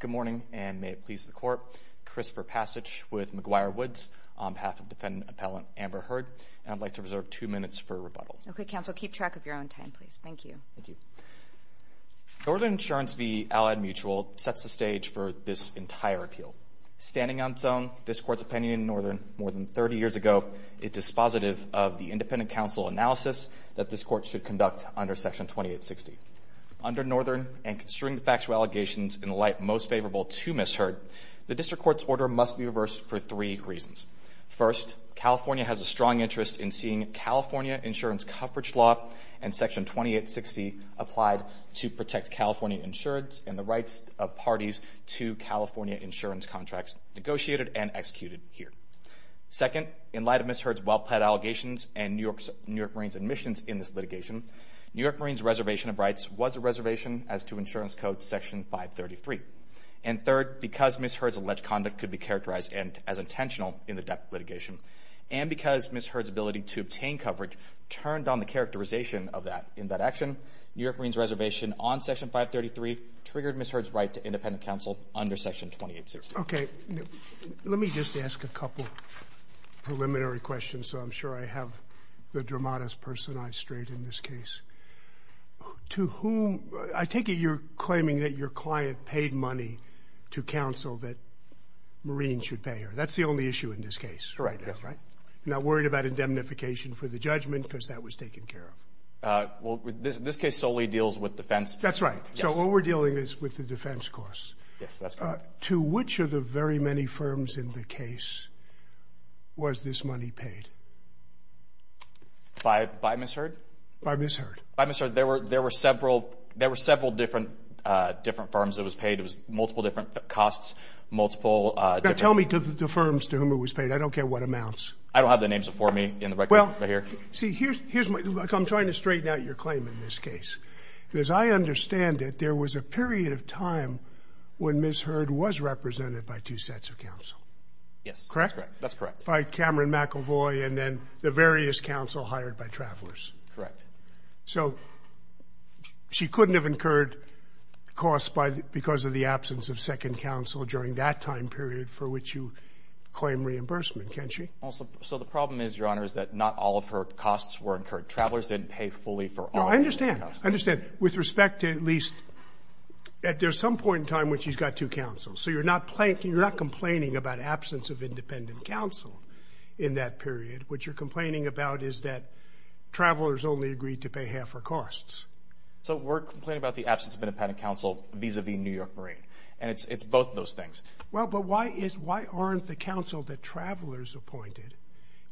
Good morning, and may it please the court, Christopher Passage with McGuire Woods on behalf of defendant appellant Amber Heard, and I'd like to reserve two minutes for rebuttal. Okay, counsel, keep track of your own time, please. Thank you. Thank you. Northern Insurance v. Allied Mutual sets the stage for this entire appeal. Standing on its own, this court's opinion in Northern more than 30 years ago, it is dispositive of the independent counsel analysis that this court should conduct under Section 2860. Under Northern, and considering the factual allegations in light most favorable to Ms. Heard, the district court's order must be reversed for three reasons. First, California has a strong interest in seeing California insurance coverage law and Section 2860 applied to protect California insurance and the rights of parties to California insurance contracts negotiated and executed here. Second, in light of Ms. Heard's well-planned allegations and New York Marine's admissions in this litigation, New York Marine's reservation of rights was a reservation as to insurance code Section 533. And third, because Ms. Heard's alleged conduct could be characterized as intentional in the death litigation, and because Ms. Heard's ability to obtain coverage turned on the characterization of that. In that action, New York Marine's reservation on Section 533 triggered Ms. Heard's right to independent counsel under Section 2860. Okay. Let me just ask a couple preliminary questions, so I'm sure I have the dramatist person's eyes straight in this case. To whom, I take it you're claiming that your client paid money to counsel that Marines should pay her. That's the only issue in this case? Correct. You're not worried about indemnification for the judgment because that was taken care of? This case solely deals with defense. That's right. So what we're dealing is with the defense costs. To which of the very many firms in the case was this money paid? By Ms. Heard? By Ms. Heard. By Ms. Heard. There were several different firms that was paid. It was multiple different costs, multiple different... Tell me the firms to whom it was paid. I don't care what amounts. I don't have the names before me in the record right here. Well, see, I'm trying to straighten out your claim in this case. As I understand it, there was a period of time when Ms. Heard was represented by two sets of counsel. Yes, that's correct. That's correct. By Cameron McElvoy and then the various counsel hired by travelers. Correct. So she couldn't have incurred costs because of the absence of second counsel during that time period for which you claim reimbursement, can she? So the problem is, Your Honor, is that not all of her costs were incurred. Travelers didn't pay fully for all of her costs. No, I understand. I understand. With respect to at least, at some point in time when she's got two counsels. So you're not complaining about absence of independent counsel in that period. What you're complaining about is that travelers only agreed to pay half her costs. So we're complaining about the absence of independent counsel vis-a-vis New York Marine. And it's both those things. Well, but why aren't the counsel that travelers appointed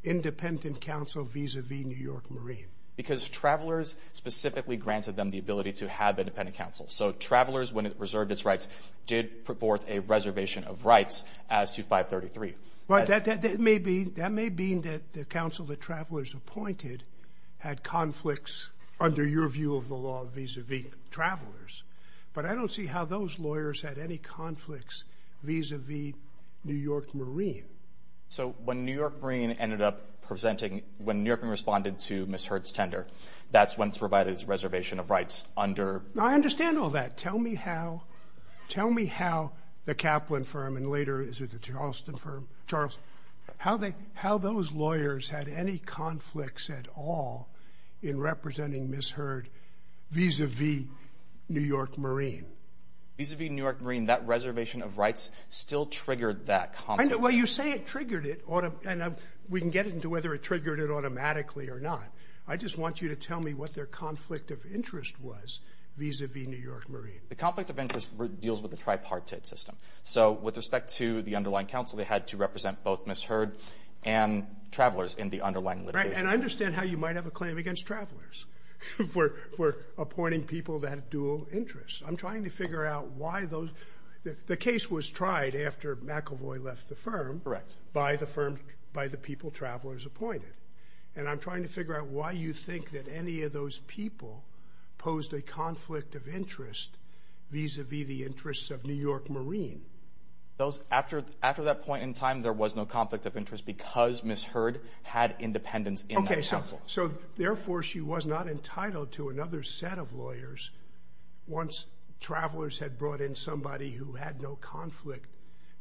independent counsel vis-a-vis New York Marine? Because travelers specifically granted them the ability to have independent counsel. So travelers, when it reserved its rights, did put forth a reservation of rights as to 533. That may mean that the counsel that travelers appointed had conflicts under your view of the law vis-a-vis travelers. But I don't see how those lawyers had any conflicts vis-a-vis New York Marine. So when New York Marine ended up presenting, when New York Marine responded to Ms. Hurd's tender, that's when it's provided as a reservation of rights under? I understand all that. Tell me how, tell me how the Kaplan firm and later, is it the Charleston firm, Charles, how they, how those lawyers had any conflicts at all in representing Ms. Hurd vis-a-vis New York Marine? Vis-a-vis New York Marine, that reservation of rights still triggered that conflict. Well, you say it triggered it, and we can get into whether it triggered it automatically or not. I just want you to tell me what their conflict of interest was vis-a-vis New York Marine. The conflict of interest deals with the tripartite system. So with respect to the underlying counsel, they had to represent both Ms. Hurd and travelers in the underlying litigation. Right. And I understand how you might have a claim against travelers for appointing people that have dual interests. I'm trying to figure out why those, the case was tried after McEvoy left the firm. Correct. By the firm, by the people travelers appointed. And I'm trying to figure out why you think that any of those people posed a conflict of interest vis-a-vis the interests of New York Marine. Those, after that point in time, there was no conflict of interest because Ms. Hurd had independence in that counsel. So therefore, she was not entitled to another set of lawyers once travelers had brought in somebody who had no conflict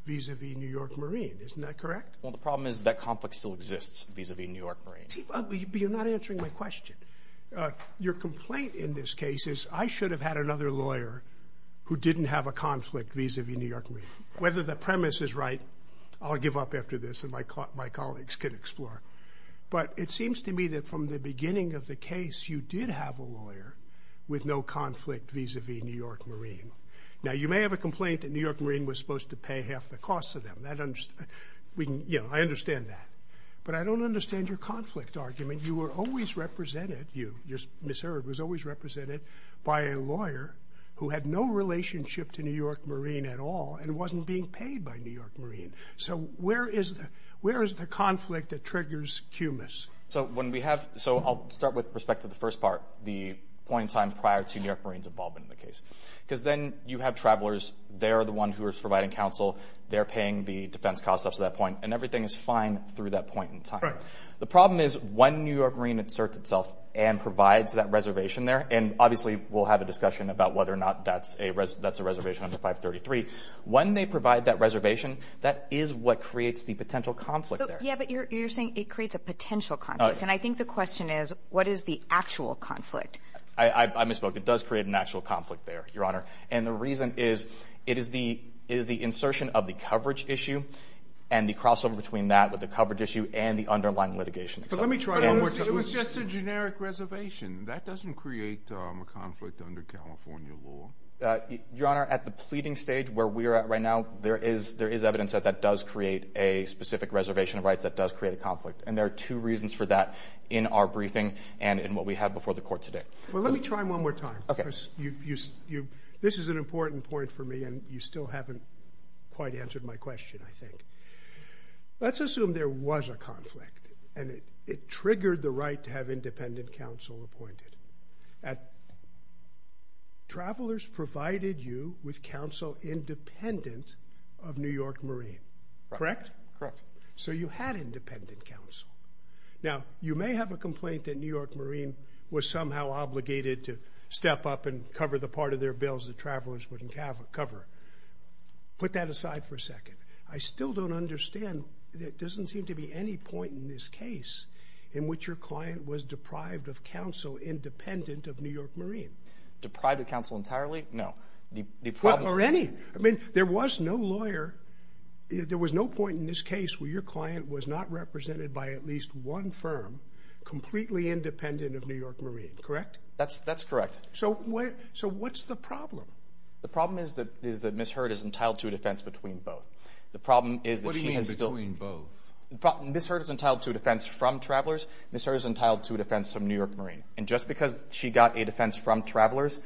vis-a-vis New York Marine. Isn't that correct? Well, the problem is that conflict still exists vis-a-vis New York Marine. But you're not answering my question. Your complaint in this case is I should have had another lawyer who didn't have a conflict vis-a-vis New York Marine. Whether the premise is right, I'll give up after this and my colleagues can explore. But it seems to me that from the beginning of the case, you did have a lawyer with no conflict vis-a-vis New York Marine. Now, you may have a complaint that New York Marine was supposed to pay half the costs of them. That, you know, I understand that. But I don't understand your conflict argument. You were always represented, you, Ms. Hurd, was always represented by a lawyer who had no relationship to New York Marine at all and wasn't being paid by New York Marine. So where is the conflict that triggers cumulus? So when we have, so I'll start with respect to the first part, the point in time prior to New York Marine's involvement in the case. Because then you have travelers. They're the one who are providing counsel. They're paying the defense costs up to that point. And everything is fine through that point in time. Right. The problem is when New York Marine inserts itself and provides that reservation there, and obviously we'll have a discussion about whether or not that's a reservation under 533. When they provide that reservation, that is what creates the potential conflict there. Yeah, but you're saying it creates a potential conflict. And I think the question is, what is the actual conflict? I misspoke. It does create an actual conflict there, Your Honor. And the reason is, it is the insertion of the coverage issue and the crossover between that with the coverage issue and the underlying litigation. But let me try it one more time. It was just a generic reservation. That doesn't create a conflict under California law. Your Honor, at the pleading stage where we are at right now, there is evidence that that does create a specific reservation of rights that does create a conflict. And there are two reasons for that in our briefing and in what we have before the Court today. Well, let me try one more time. Okay. Because this is an important point for me, and you still haven't quite answered my question, I think. Let's assume there was a conflict, and it triggered the right to have independent counsel appointed. Travelers provided you with counsel independent of New York Marine, correct? Correct. So you had independent counsel. Now, you may have a complaint that New York Marine was somehow obligated to step up and cover the part of their bills that travelers wouldn't have to cover. Put that aside for a second. I still don't understand. There doesn't seem to be any point in this case in which your client was deprived of counsel independent of New York Marine. Deprived of counsel entirely? No. Or any. I mean, there was no lawyer. There was no point in this case where your client was not represented by at least one firm completely independent of New York Marine, correct? That's correct. So what's the problem? The problem is that Ms. Hurd is entitled to a defense between both. What do you mean between both? Ms. Hurd is entitled to a defense from Travelers. Ms. Hurd is entitled to a defense from New York Marine. And just because she got a defense from Travelers,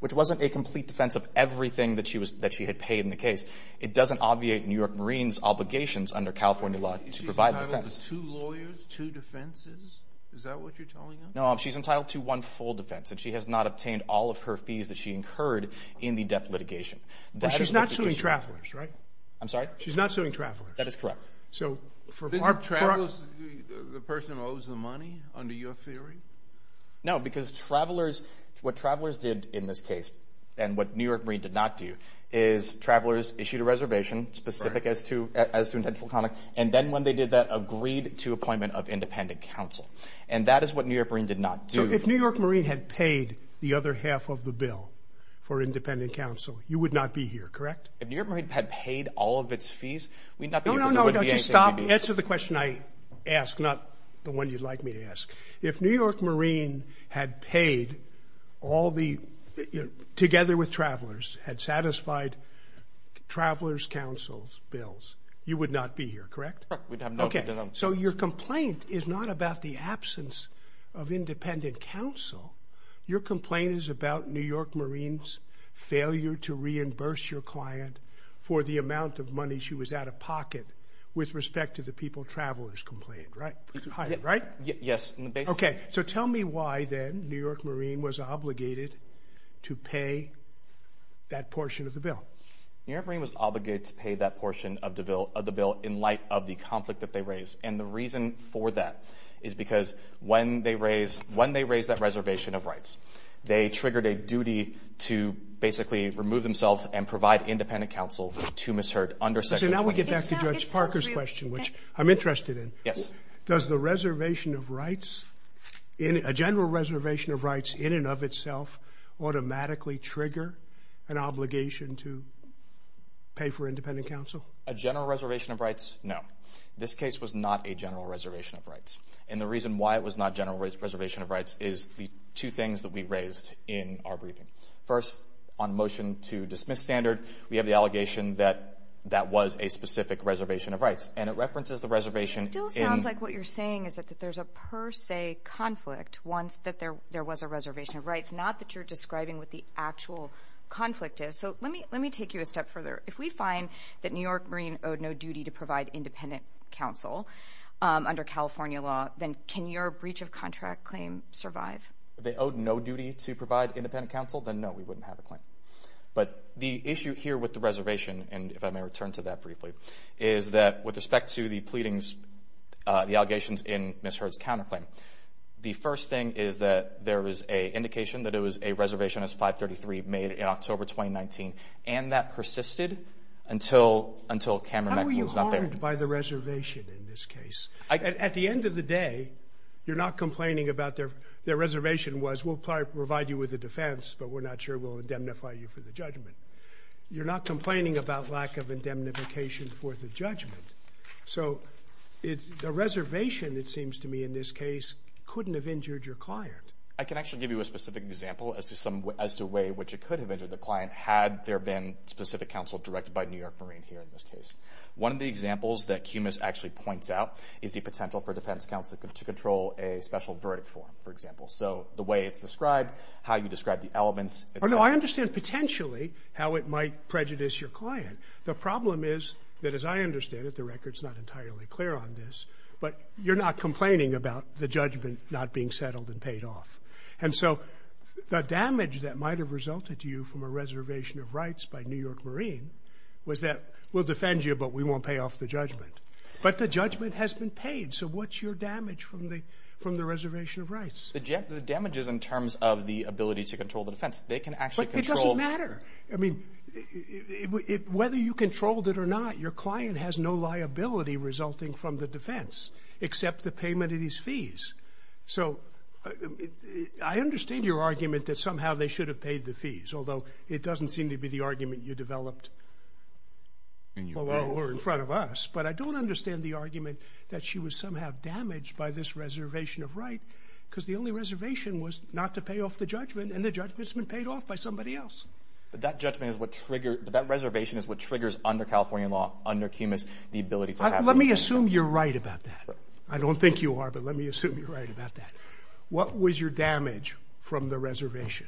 which wasn't a complete defense of everything that she had paid in the case, it doesn't obviate New York Marine's obligations under California law to provide the defense. She's entitled to two lawyers, two defenses? Is that what you're telling us? No. She's entitled to one full defense. And she has not obtained all of her fees that she incurred in the death litigation. But she's not suing Travelers, right? I'm sorry? She's not suing Travelers? That is correct. So for Park Travelers, the person owes the money, under your theory? No, because Travelers, what Travelers did in this case, and what New York Marine did not do, is Travelers issued a reservation specific as to intentional conduct. And then when they did that, agreed to appointment of independent counsel. And that is what New York Marine did not do. If New York Marine had paid the other half of the bill for independent counsel, you would not be here, correct? If New York Marine had paid all of its fees, we'd not be here because it wouldn't be a No, no, no, don't you stop. Answer the question I ask, not the one you'd like me to ask. If New York Marine had paid all the, together with Travelers, had satisfied Travelers' counsel's bills, you would not be here, correct? Correct. We'd have no... Okay. So your complaint is not about the absence of independent counsel. Your complaint is about New York Marine's failure to reimburse your client for the amount of money she was out of pocket with respect to the people Travelers complained, right? Yes. Yes. Okay. So tell me why then New York Marine was obligated to pay that portion of the bill. New York Marine was obligated to pay that portion of the bill in light of the conflict that they raised. And the reason for that is because when they raised that reservation of rights, they triggered a duty to basically remove themselves and provide independent counsel to misheard under Section 20. So now we get back to Judge Parker's question, which I'm interested in. Yes. Does the reservation of rights, a general reservation of rights in and of itself automatically trigger an obligation to pay for independent counsel? A general reservation of rights? No. This case was not a general reservation of rights. And the reason why it was not a general reservation of rights is the two things that we raised in our briefing. First, on motion to dismiss standard, we have the allegation that that was a specific reservation of rights. And it references the reservation in... It still sounds like what you're saying is that there's a per se conflict once that there was a reservation of rights, not that you're describing what the actual conflict is. So let me take you a step further. If we find that New York Marine owed no duty to provide independent counsel under California law, then can your breach of contract claim survive? They owed no duty to provide independent counsel? Then no, we wouldn't have a claim. But the issue here with the reservation, and if I may return to that briefly, is that with respect to the pleadings, the allegations in Ms. Hurd's counterclaim, the first thing is that there was an indication that it was a reservation as 533 made in October 2019. And that persisted until Cameron McNeil was not there. How were you harmed by the reservation in this case? At the end of the day, you're not complaining about their reservation was, we'll provide you with a defense, but we're not sure we'll indemnify you for the judgment. You're not complaining about lack of indemnification for the judgment. So the reservation, it seems to me in this case, couldn't have injured your client. I can actually give you a specific example as to some, as to a way in which it could have injured the client, had there been specific counsel directed by New York Marine here in this case. One of the examples that QMIS actually points out is the potential for defense counsel to control a special verdict form, for example. So the way it's described, how you describe the elements. Oh no, I understand potentially how it might prejudice your client. The problem is that as I understand it, the record's not entirely clear on this, but you're not complaining about the judgment not being settled and paid off. And so the damage that might've resulted to you from a reservation of rights by New York Marine was that, we'll defend you, but we won't pay off the judgment. But the judgment has been paid. So what's your damage from the reservation of rights? The damages in terms of the ability to control the defense, they can actually control- It doesn't matter. I mean, whether you controlled it or not, your client has no liability resulting from the defense, except the payment of these fees. So I understand your argument that somehow they should have paid the fees, although it doesn't seem to be the argument you developed below or in front of us. But I don't understand the argument that she was somehow damaged by this reservation of right, because the only reservation was not to pay off the judgment and the judgment's been paid off by somebody else. But that reservation is what triggers under California law, under CUMAS, the ability to Let me assume you're right about that. I don't think you are, but let me assume you're right about that. What was your damage from the reservation?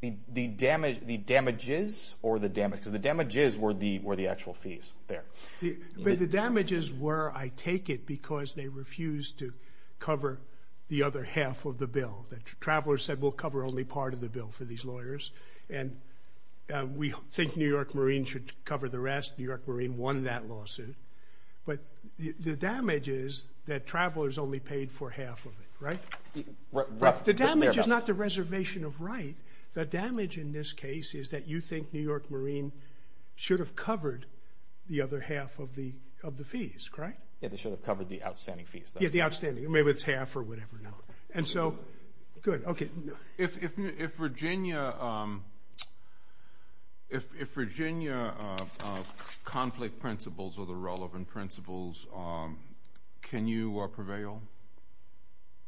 The damages or the damage? Because the damages were the actual fees there. But the damages were, I take it, because they refused to cover the other half of the bill. Travelers said, we'll cover only part of the bill for these lawyers. And we think New York Marine should cover the rest. New York Marine won that lawsuit. But the damage is that travelers only paid for half of it, right? The damage is not the reservation of right. The damage in this case is that you think New York Marine should have covered the other half of the fees, correct? Yeah, they should have covered the outstanding fees. Yeah, the outstanding. Maybe it's half or whatever now. And so, good, okay. If Virginia conflict principles or the relevant principles, can you prevail?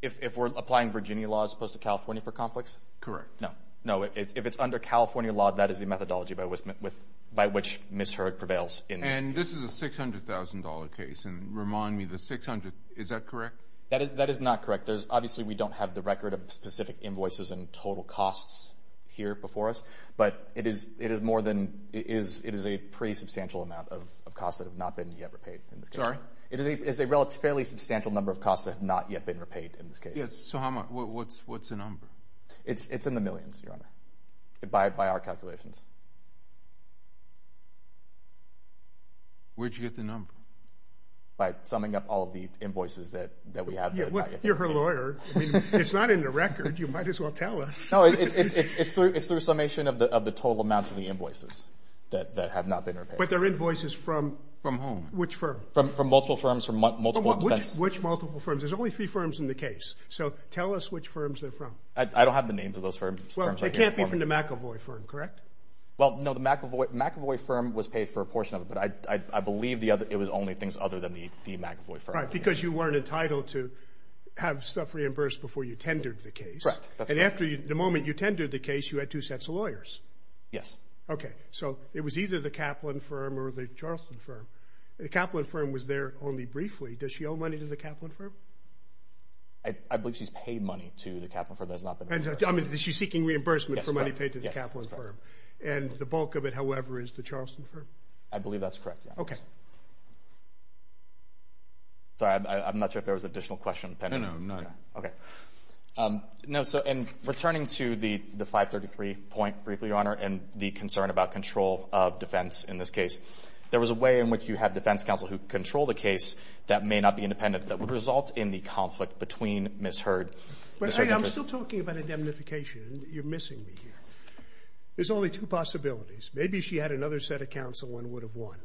If we're applying Virginia law as opposed to California for conflicts? Correct. No, if it's under California law, that is the methodology by which Ms. Hurd prevails in this case. This is a $600,000 case. And remind me, the $600,000, is that correct? That is not correct. Obviously, we don't have the record of specific invoices and total costs here before us. But it is a pretty substantial amount of costs that have not been yet repaid. Sorry? It is a fairly substantial number of costs that have not yet been repaid in this case. So what's the number? It's in the millions, Your Honor, by our calculations. Where did you get the number? By summing up all of the invoices that we have. You're her lawyer. It's not in the record. You might as well tell us. No, it's through summation of the total amounts of the invoices that have not been repaid. But they're invoices from whom? Which firm? From multiple firms. Which multiple firms? There's only three firms in the case. So tell us which firms they're from. I don't have the names of those firms. They can't be from the McEvoy firm, correct? Well, no. The McEvoy firm was paid for a portion of it. But I believe it was only things other than the McEvoy firm. Because you weren't entitled to have stuff reimbursed before you tendered the case. Correct. And the moment you tendered the case, you had two sets of lawyers. Yes. Okay. So it was either the Kaplan firm or the Charleston firm. The Kaplan firm was there only briefly. Does she owe money to the Kaplan firm? I believe she's paid money to the Kaplan firm. She's seeking reimbursement for money paid to the Kaplan firm. And the bulk of it, however, is the Charleston firm? I believe that's correct. Sorry. I'm not sure if there was an additional question pending. No, no. None. Returning to the 533 point briefly, Your Honor, and the concern about control of defense in this case, there was a way in which you had defense counsel who controlled the case that may not be independent that would result in the conflict between Ms. Hurd. But I'm still talking about indemnification. You're missing me here. There's only two possibilities. Maybe she had another set of counsel and would have won,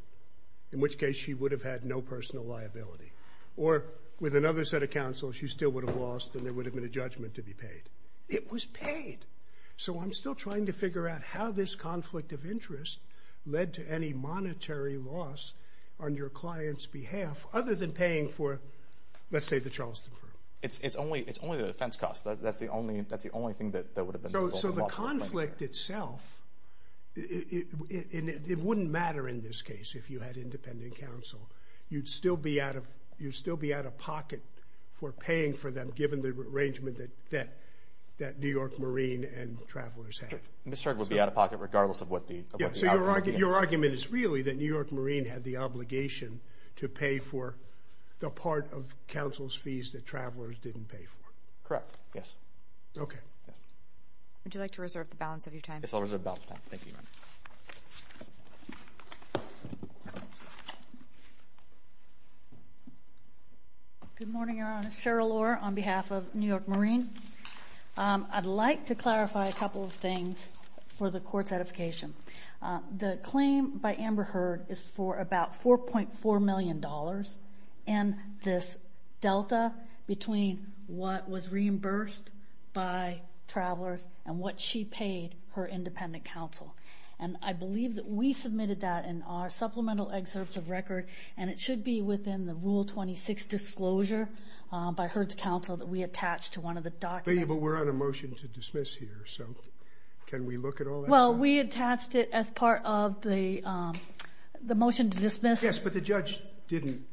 in which case she would have had no personal liability. Or with another set of counsel, she still would have lost, and there would have been a judgment to be paid. It was paid. So I'm still trying to figure out how this conflict of interest led to any monetary loss on your client's behalf, other than paying for, let's say, the Charleston firm. It's only the defense costs. That's the only thing that would have resulted in loss on the client. So the conflict itself, it wouldn't matter in this case if you had independent counsel. You'd still be out of pocket for paying for them, given the arrangement that New York Marine and Travelers had. Ms. Hurd would be out of pocket regardless of what the outcome would be. Your argument is really that New York Marine had the obligation to pay for the part of counsel's fees that Travelers didn't pay for. Yes. Okay. Would you like to reserve the balance of your time? Yes, I'll reserve the balance of time. Thank you, Your Honor. Good morning, Your Honor. Cheryl Lohr on behalf of New York Marine. I'd like to clarify a couple of things for the court's edification. The claim by Amber Hurd is for about $4.4 million and this delta between what was reimbursed by Travelers and what she paid her independent counsel. And I believe that we submitted that in our supplemental excerpts of record and it should be within the Rule 26 disclosure by Hurd's counsel that we attach to one of the documents. But we're on a motion to dismiss here. So can we look at all that? Well, we attached it as part of the motion to dismiss. Yes, but the judge didn't.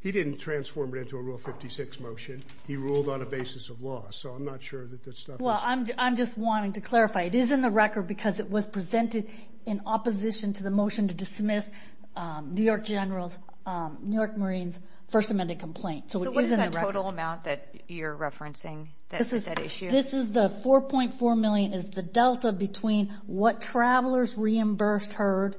He didn't transform it into a Rule 56 motion. He ruled on a basis of law. So I'm not sure that that stuff is... Well, I'm just wanting to clarify. It is in the record because it was presented in opposition to the motion to dismiss New York General's, New York Marine's first amended complaint. So what is that total amount that you're referencing that issue? This is the $4.4 million is the delta between what Travelers reimbursed Hurd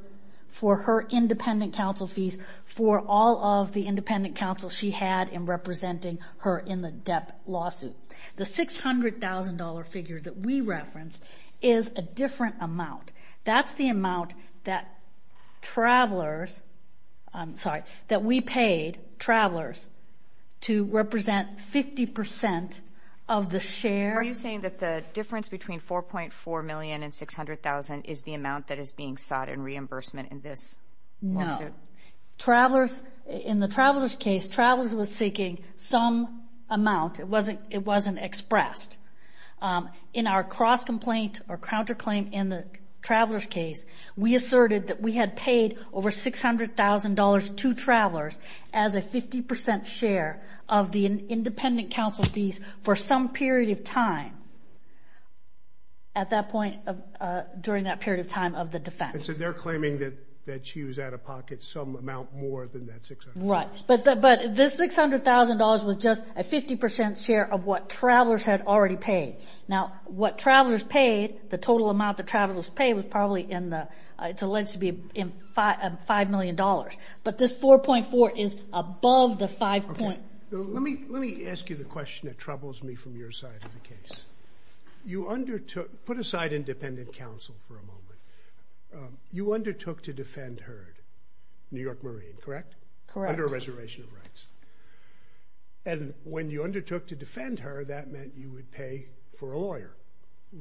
for her independent counsel fees for all of the independent counsel she had in representing her in the Depp lawsuit. The $600,000 figure that we referenced is a different amount. That's the amount that Travelers... I'm sorry, that we paid Travelers to represent 50% of the share... Are you saying that the difference between $4.4 million and $600,000 is the amount that is being sought in reimbursement in this lawsuit? No. Travelers... In the Travelers case, Travelers was seeking some amount. It wasn't expressed. In our cross-complaint or counterclaim in the Travelers case, we asserted that we had paid over $600,000 to Travelers as a 50% share of the independent counsel fees for some period of time at that point during that period of time of the defense. So they're claiming that she was out of pocket some amount more than that $600,000. Right. But this $600,000 was just a 50% share of what Travelers had already paid. Now, what Travelers paid, the total amount that Travelers paid was probably in the... It's alleged to be $5 million. But this 4.4 is above the 5.4. Let me ask you the question that troubles me from your side of the case. You undertook... Put aside independent counsel for a moment. You undertook to defend Herd, New York Marine, correct? Correct. Under a reservation of rights. And when you undertook to defend Herd, that meant you would pay for a lawyer.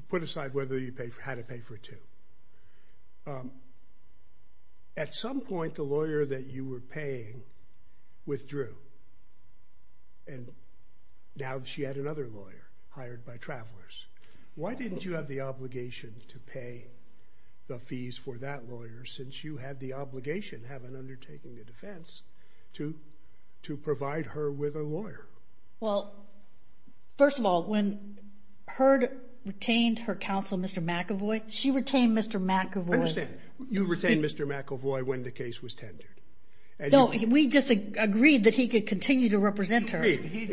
Put aside whether you had to pay for two. At some point, the lawyer that you were paying withdrew. And now she had another lawyer hired by Travelers. Why didn't you have the obligation to pay the fees for that lawyer since you had the obligation, having undertaken the defense, to provide her with a lawyer? Well, first of all, when Herd retained her counsel, Mr. McAvoy, she retained Mr. McAvoy. I understand. You retained Mr. McAvoy when the case was tendered. No, we just agreed that he could continue to represent her. He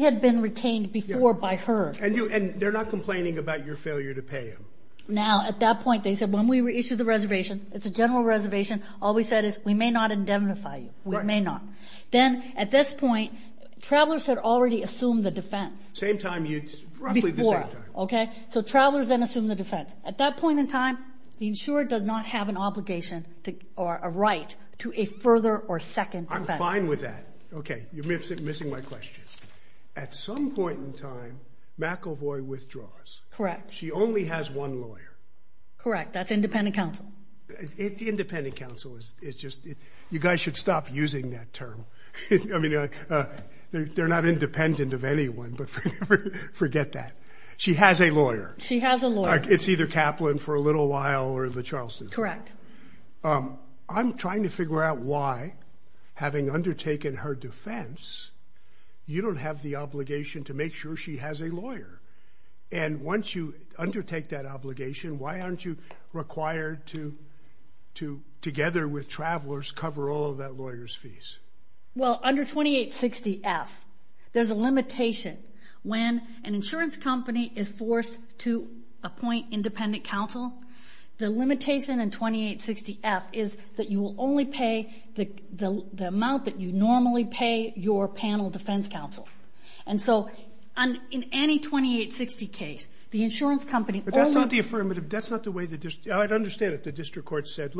had been retained before by Herd. And they're not complaining about your failure to pay him. Now, at that point, they said, when we issue the reservation, it's a general reservation, all we said is, we may not indemnify you. We may not. Then, at this point, Travelers had already assumed the defense. Same time you... Before. Okay? So Travelers then assumed the defense. At that point in time, the insurer does not have an obligation or a right to a further or second defense. I'm fine with that. Okay. You're missing my question. At some point in time, McAvoy withdraws. Correct. She only has one lawyer. Correct. That's independent counsel. Independent counsel is just... You guys should stop using that term. I mean, they're not independent of anyone, but forget that. She has a lawyer. She has a lawyer. It's either Kaplan for a little while or the Charlestons. I'm trying to figure out why, having undertaken her defense, you don't have the obligation to make sure she has a lawyer. And once you undertake that obligation, why aren't you required to, together with Travelers, cover all of that lawyer's fees? Well, under 2860F, there's a limitation. When an insurance company is forced to appoint independent counsel, the limitation in 2860F is that you will only pay the amount that you normally pay your panel defense counsel. And so, in any 2860 case, the insurance company... But that's not the affirmative. That's not the way the... I'd understand if the district court said,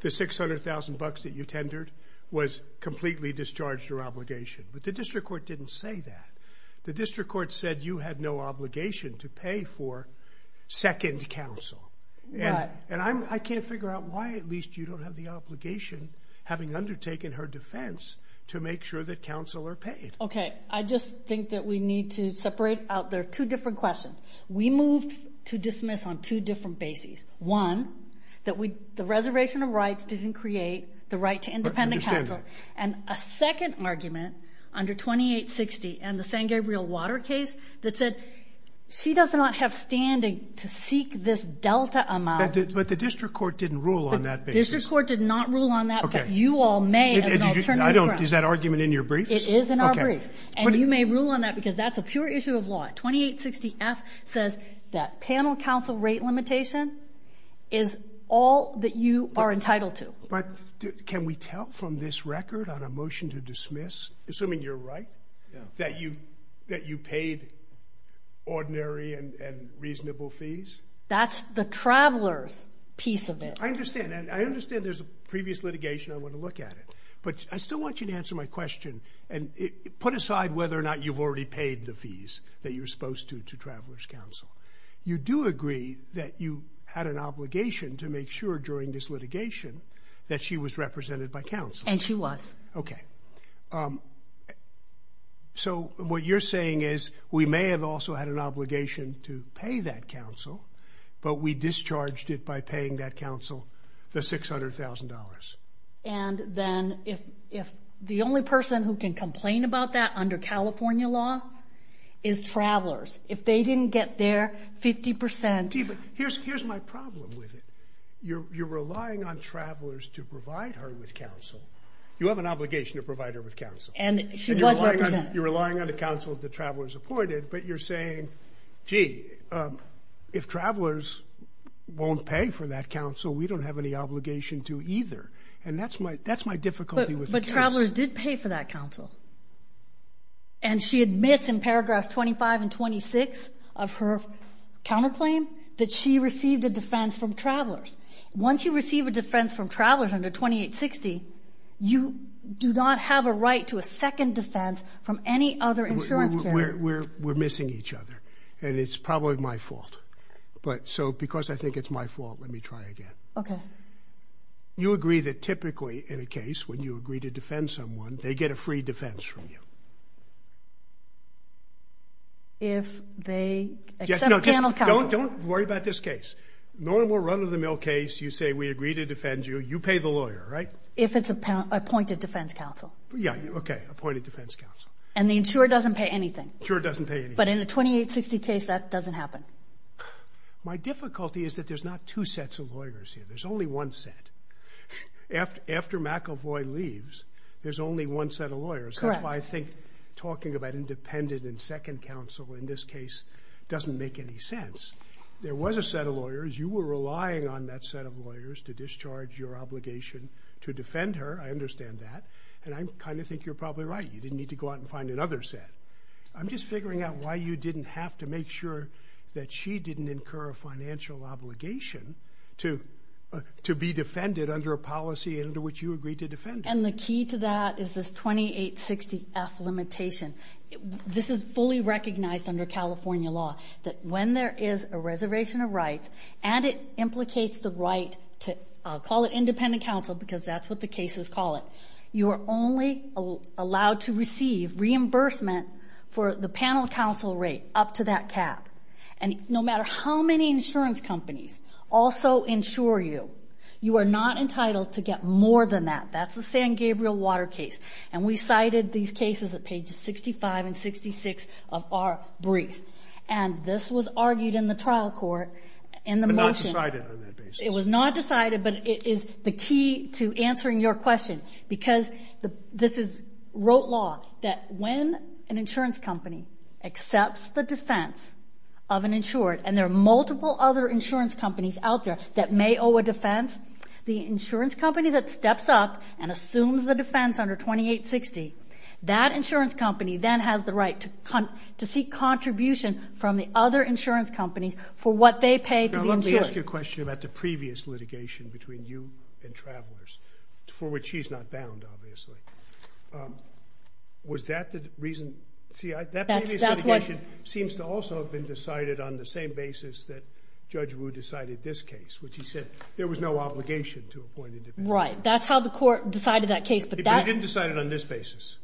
the 600,000 bucks that you tendered was completely discharged or obligation. But the district court didn't say that. The district court said you had no obligation to pay for second counsel. And I can't figure out why, at least, you don't have the obligation, having undertaken her defense, to make sure that counsel are paid. Okay. I just think that we need to separate out... There are two different questions. We moved to dismiss on two different bases. One, that the reservation of rights didn't create the right to independent counsel. I understand that. And a second argument, under 2860, and the San Gabriel Water case, that said, she does not have standing to seek this delta amount. But the district court didn't rule on that basis. The district court did not rule on that. But you all may, as an alternative... Is that argument in your briefs? It is in our briefs. And you may rule on that because that's a pure issue of law. 2860-F says that panel counsel rate limitation is all that you are entitled to. But, can we tell from this record on a motion to dismiss, assuming you're right, that you paid ordinary and reasonable fees? That's the traveler's piece of it. I understand. And I understand there's a previous litigation I want to look at it. But I still want you to answer my question and put aside whether or not you've already paid the fees that you're supposed to to traveler's counsel. You do agree that you had an obligation to make sure during this litigation that she was represented by counsel. And she was. Okay. So, what you're saying is we may have also had an obligation to pay that counsel, but we discharged it by paying that counsel the $600,000. And then, if the only person who can complain about that under California law is travelers. If they didn't get there, 50%... Here's my problem with it. You're relying on travelers to provide her with counsel. You have an obligation to provide her with counsel. And she was represented. And you're relying on the counsel that travelers appointed, but you're saying, if travelers won't pay for that counsel, we don't have any obligation to either. And that's my difficulty with the case. But travelers did pay for that counsel. And she admits in paragraphs 25 and 26 of her counterclaim that she received a defense from travelers. Once you receive a defense from travelers under 2860, you do not have a right to a second defense from any other insurance carrier. We're missing each other. And it's probably my fault. But, so, because I think it's my fault, let me try again. Okay. You agree that, typically, in a case, when you agree to defend someone, they get a free defense from you. If they... Except panel counsel. Don't worry about this case. Normal run-of-the-mill case, you say, we agree to defend you. You pay the lawyer, right? If it's appointed defense counsel. Yeah. Appointed defense counsel. And the insurer doesn't pay anything. Insurer doesn't pay anything. But in a 2860 case, that doesn't happen. My difficulty is that there's not two sets of lawyers here. There's only one set. After McEvoy leaves, there's only one set of lawyers. Correct. That's why I think talking about independent and second counsel in this case doesn't make any sense. There was a set of lawyers. You were relying on that set of lawyers to discharge your obligation to defend her. I understand that. And I kind of think you're probably right. You didn't need to go out and find another set. I'm just figuring out why you didn't have to make sure that she didn't incur a financial obligation to be defended under a policy under which you agreed to defend her. And the key to that is this 2860F limitation. This is fully recognized under California law that when there is a reservation of rights and it implicates the right to, I'll call it independent counsel because that's what the cases call it. You are only allowed to receive reimbursement for the panel counsel rate up to that cap. And no matter how many insurance companies also insure you, you are not entitled to get more than that. That's the San Gabriel Water case. And we cited these cases at pages 65 and 66 of our brief. And this was argued in the trial court in the motion. on that basis. It was not decided but it is the key to answering your question because this is wrote law that when an insurance company accepts the defense of an insured and there are multiple other insurance companies out there that may owe a defense, the insurance company that steps up and assumes the defense under 2860, that insurance company then has the right to seek contribution from the other insurance companies for what they pay to the insured. Let me ask you a question about the previous litigation between you and Travelers, for which she's not bound obviously. Was that the reason? that previous litigation seems to also have been decided on the same basis that Judge Wu decided this case which he said there was no obligation to appoint a defense. Right. That's how the court decided that case. But he didn't decide it on this basis.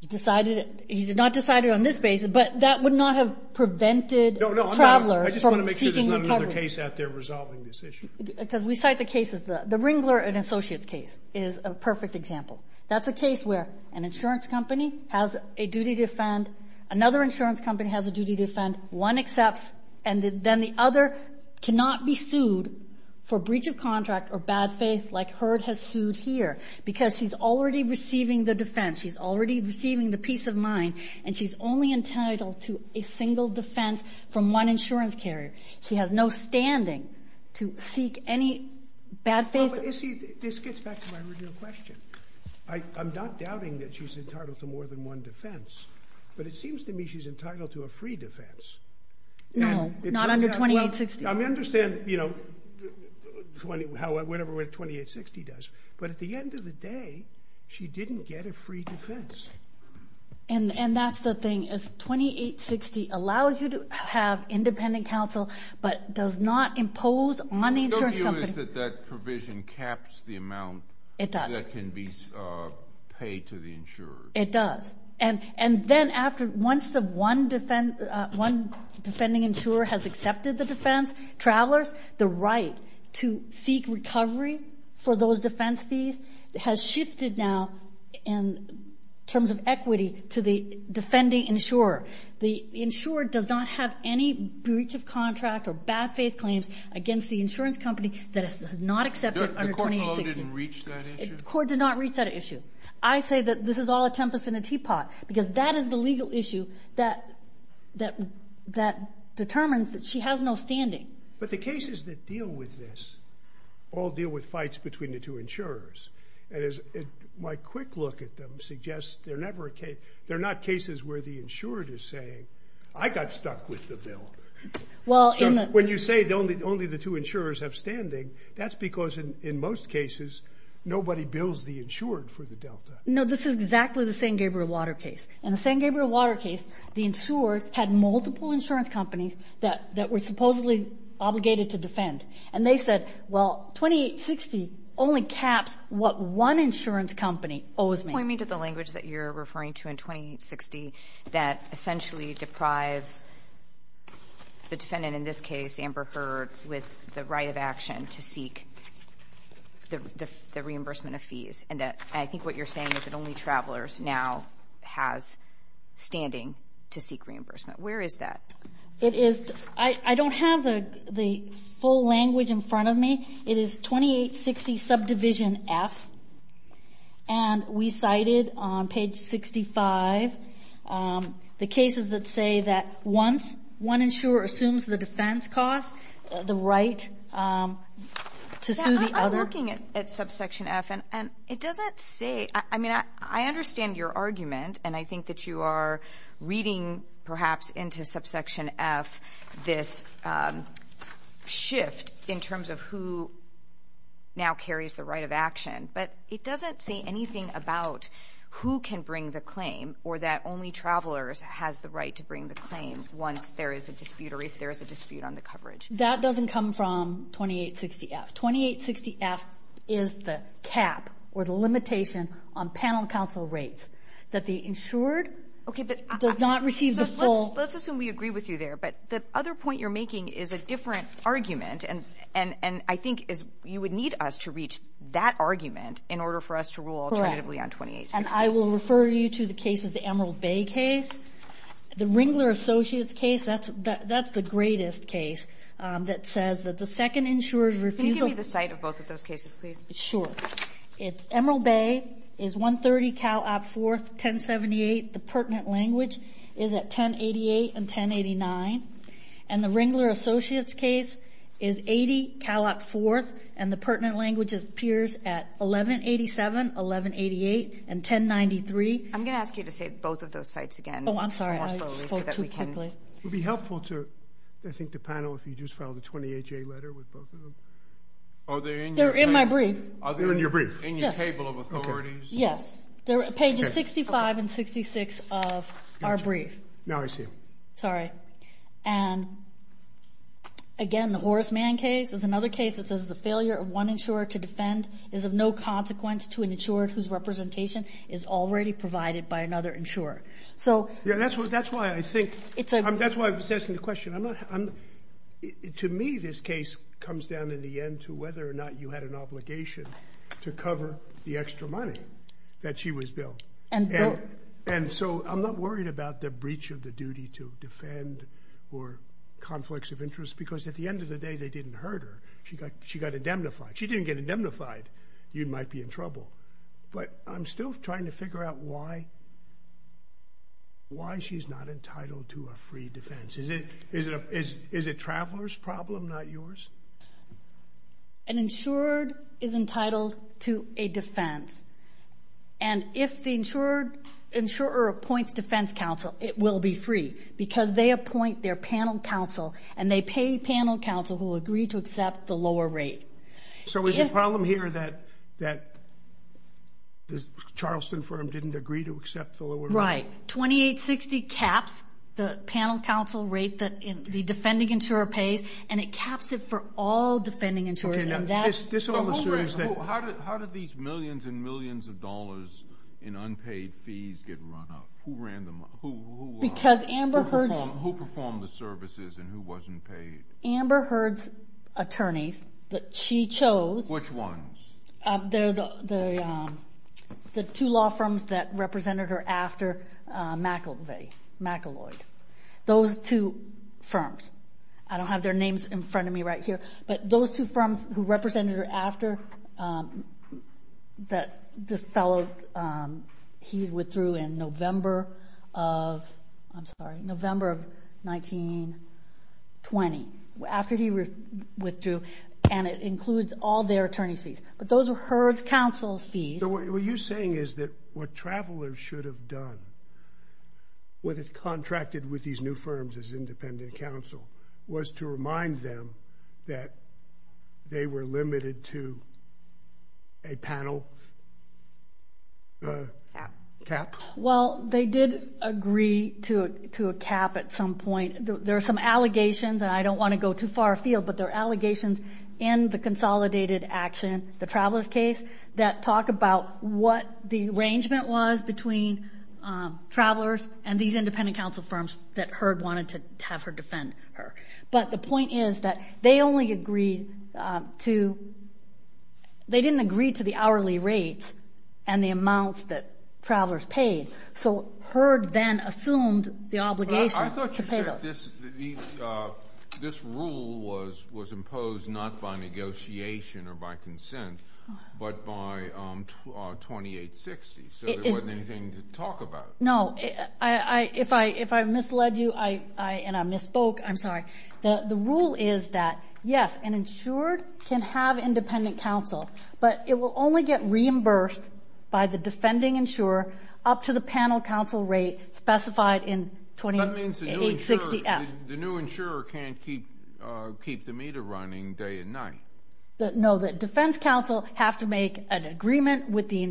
He decided, he did not decide it on this basis but that would not have prevented Travelers from seeking recovery. There's no other case out there resolving this issue. Because we cite the case as the Ringler and Associates case is a perfect example. That's a case where an insurance company has a duty to defend, another insurance company has a duty to defend, one accepts and then the other cannot be sued for breach of contract or bad faith like Hurd has sued here because she's already receiving the defense. She's already receiving the peace of mind and she's only entitled to a single defense from one insurance carrier. She has no say or standing to seek any bad faith. But you see this gets back to my original question. I'm not doubting that she's entitled to more than one defense but it seems to me she's entitled to a free defense. No. Not under 2860. I understand you know how whenever 2860 does but at the end of the day she didn't get a free defense. And that's the thing is 2860 allows you to have independent counsel but does not impose on the insurance company. The issue is that that provision caps the amount that can be paid to the insurer. It does. And then after once the one defending insurer has accepted the defense travelers the right to seek recovery for those defense fees has shifted now in terms of equity to the defending insurer. The insurer does not have any breach of contract or bad faith claims against the insurance company that has not accepted under 2860. didn't reach that issue? The court did not reach that issue. I say that this is all a tempest in a teapot because that is the legal issue that determines that she has no standing. But the cases that deal with this all deal with fights between the two insurers. My quick look at them suggests they're not cases where the is saying I got stuck with the When you say only the two insurers have standing that's because in most cases nobody bills the insured for the Delta. No this is exactly the San Gabriel Water case. In the San Water case the insured had multiple insurance companies that were supposedly obligated to defend and they said well 2860 only caps what one insurance company owes me. Can you point me to the language that you're referring to in 2860 that essentially deprives the defendant in this case Amber Heard with the right of action to seek the reimbursement of fees and that I think what you're saying is that only Travelers now has standing to seek reimbursement. Where is that? I don't have the full language in front of me it is 2860 subdivision F and we cited on page 65 the cases that say that once one insurer assumes the defense cost the right to sue the other. I'm looking at subsection F and it doesn't say I mean I understand your argument and I think that you are reading perhaps into subsection F this shift in terms of who now carries the right of action but it doesn't say anything about who can bring the claim or that only Travelers has the right to bring the once there is a dispute on the coverage that doesn't come from 2860 F 2860 F is the cap or the limitation on panel counsel rates that the insured does not receive the full let's assume we agree with you there but the other point you're making is a different argument and I think you would need us to reach that argument in order for us to rule alternatively on 2860 I will refer you to the case of the Bay case the Ringler Associates case that's the greatest case that says that the second insured refusal can you give me the site of both of those cases please sure it's Emerald Bay is 130 Cal Op 4th 1078 the language is at 1088 and 1089 and the Ringler Associates case is 80 Cal Op 4th and the pertinent language appears at 1187 1188 and 1093 I'm going to ask you to say both of those sites again oh I'm sorry I spoke too quickly it would be helpful to I think the again the Horace Mann case is another case that says the failure of one insurer to defend is of no consequence to an insured whose representation is already provided by another insurer so that's why I was asking the question to me this case comes down in the end to whether or not you had an obligation to cover the extra conflicts of interest because at the end of the day they didn't hurt her she got indemnified she didn't get indemnified you might be in trouble but I'm still trying to figure out why she's not entitled to a free defense is it traveler's problem not yours an insured is entitled to a and if the insurer appoints defense counsel it will be free because they appoint their panel counsel and they pay panel counsel who agree to accept the lower rate so is the problem here that that the charleston firm didn't agree to accept the lower rate 2860 it actually the panel counsel rate and it caps it for all defending insurers how did these millions and millions of dollars in unpaid fees get run up who ran them who performed the services and who wasn't paid amber the law firms that represented her after mack those two firms i don't have their names in front of me those two firms who represented her after that this fellow he withdrew in november of 1920 after he withdrew and it came that what travelers should have done when it contracted with these new firms as independent counsel was to remind them that they were limited to a panel cap well they did agree to a cap at some point there are some allegations i don't want to go too far field but there are allegations in the consolidated action the travelers case that talk about what the arrangement was between travelers and these independent counsel firms that heard wanted to have her defend her but the point is that they only agreed to they didn't agree to the hourly rate rule was imposed not by negotiation or by consent but by 2860 so there wasn't anything to talk about no if i misled you and i misspoke i'm sorry the rule is that yes an insured can have independent counsel but it will only get reimbursed by the defending insurer up to the panel counsel rate specified in 2860 the new insurer can't keep the meter running day and night no the defense counsel have to make an with the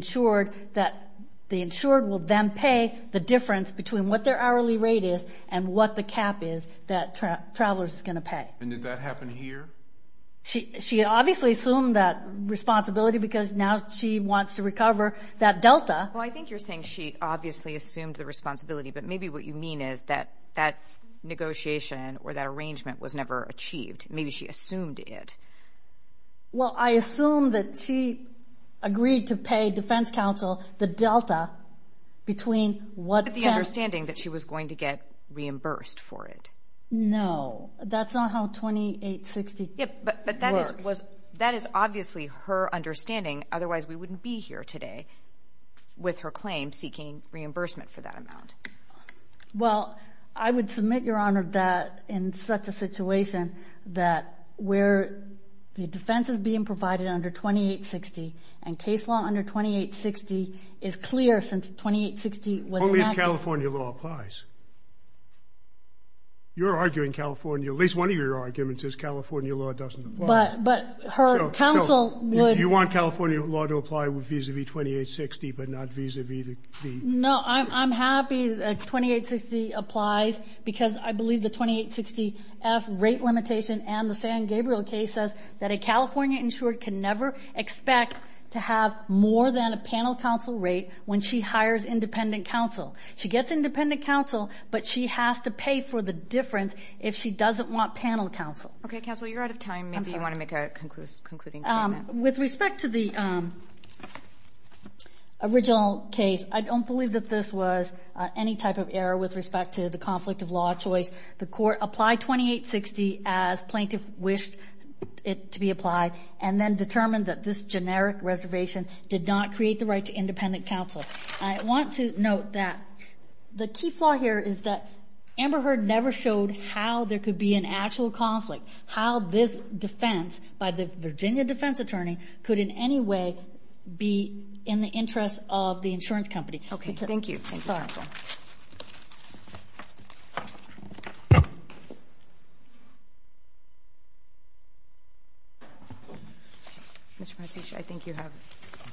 that the insured will then pay the difference between what their hourly rate is and what the cap is that travelers are going to pay did that happen here she obviously assumed that responsibility because now she wants to recover that delta i think you're saying she obviously assumed the responsibility but maybe what you mean is that that negotiation or that was never achieved maybe she assumed it well i assume that she agreed to pay defense counsel the between what the understanding that she was going to get reimbursed for it no that's not how 2860 works that is obviously her understanding otherwise we wouldn't be here today with her claim seeking reimbursement for that amount well i would submit your honor that in such a situation that where the defense is being provided under 2860 and case law under 2860 is clear since 2860 was enacted but california law applies you're arguing california at least one of your arguments is california law doesn't apply but her counsel would you want california law to apply vis-a-vis 2860 but not vis-a-vis the no i'm happy that 2860 applies because i believe the 2860 f rate limitation and the san gabriel case says that a california insured can never expect to have more than a panel counsel rate when she hires independent counsel she gets independent counsel but she has to pay for the difference if she doesn't want panel counsel okay counsel i'm as plaintiff wished it to be applied and then determined that this generic reservation did not create the right to counsel i want to note that the key flaw here is that amber heard never showed how there could be an actual conflict how this defense by the virginia defense attorney could in any way be in the interest of the insurance company okay thank you thank you counsel i think you have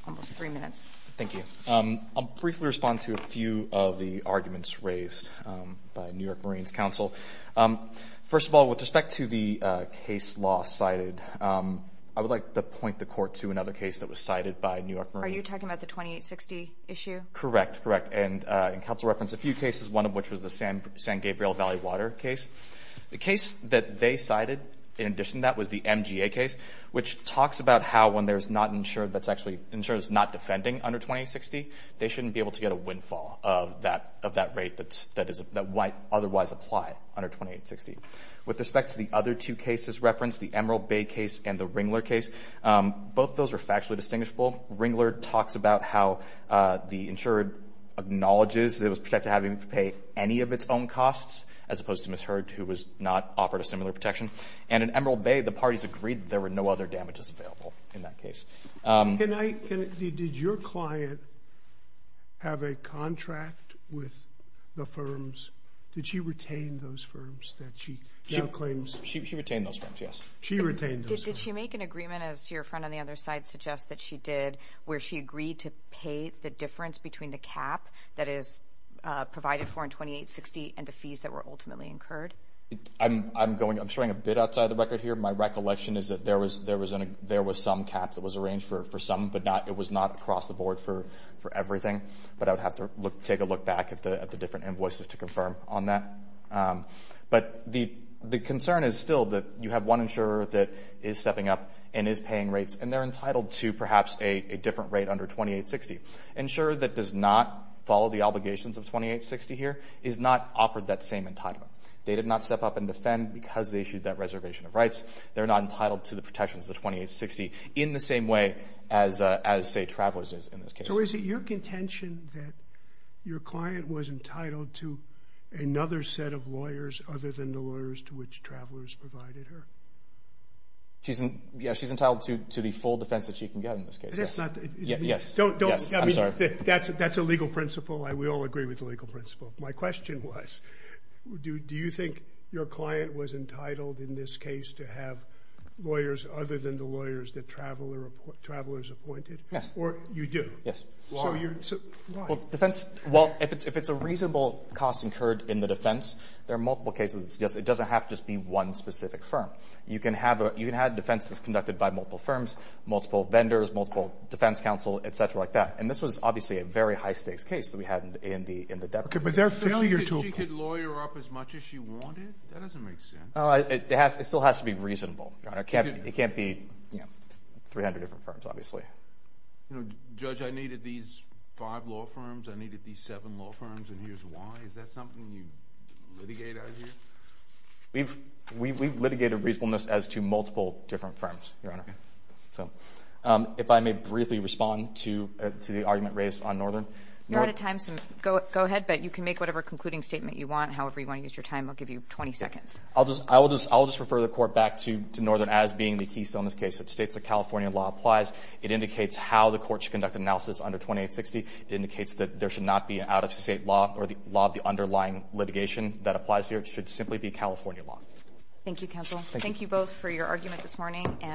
almost three minutes thank you i'll briefly respond to a few of the arguments raised by new marines counsel first of all with respect to the case law cited i would like to point the court to another case that was cited by new york marines are you talking about the 2860 issue correct correct and a few cases one of which was the san gabriel case the case they cited was the mga case which talked about how when there's not insured not defending under 2860 they shouldn't get a windfall of that rate that might otherwise apply under 2860 with respect to the insured acknowledges that was protected having to pay any of its own costs as opposed to misheard who was not offered a similar protection and in bay the parties agreed there were no other damages available in that case did your client have a contract with the firms did she retain those firms she retained those firms did she make an agreement where she agreed to pay the difference between the cap provided for 2860 and the fees incurred I'm not sure if rates and they're entitled to a different rate under 2860 insurer that does not follow the obligations of 2860 did not have a contract the firms that she retained those firms did she make an make an agreement with insurer that 2860 did she did not follow the obligations of 2860 did not have a contract with the firms that she retained those firms did she make an agreement with insurer that she did not have a 2860 did she agreement with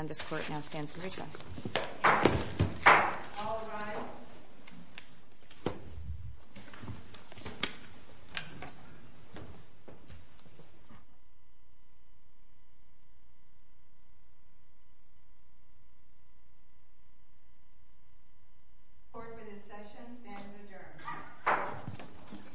insurer insurer that she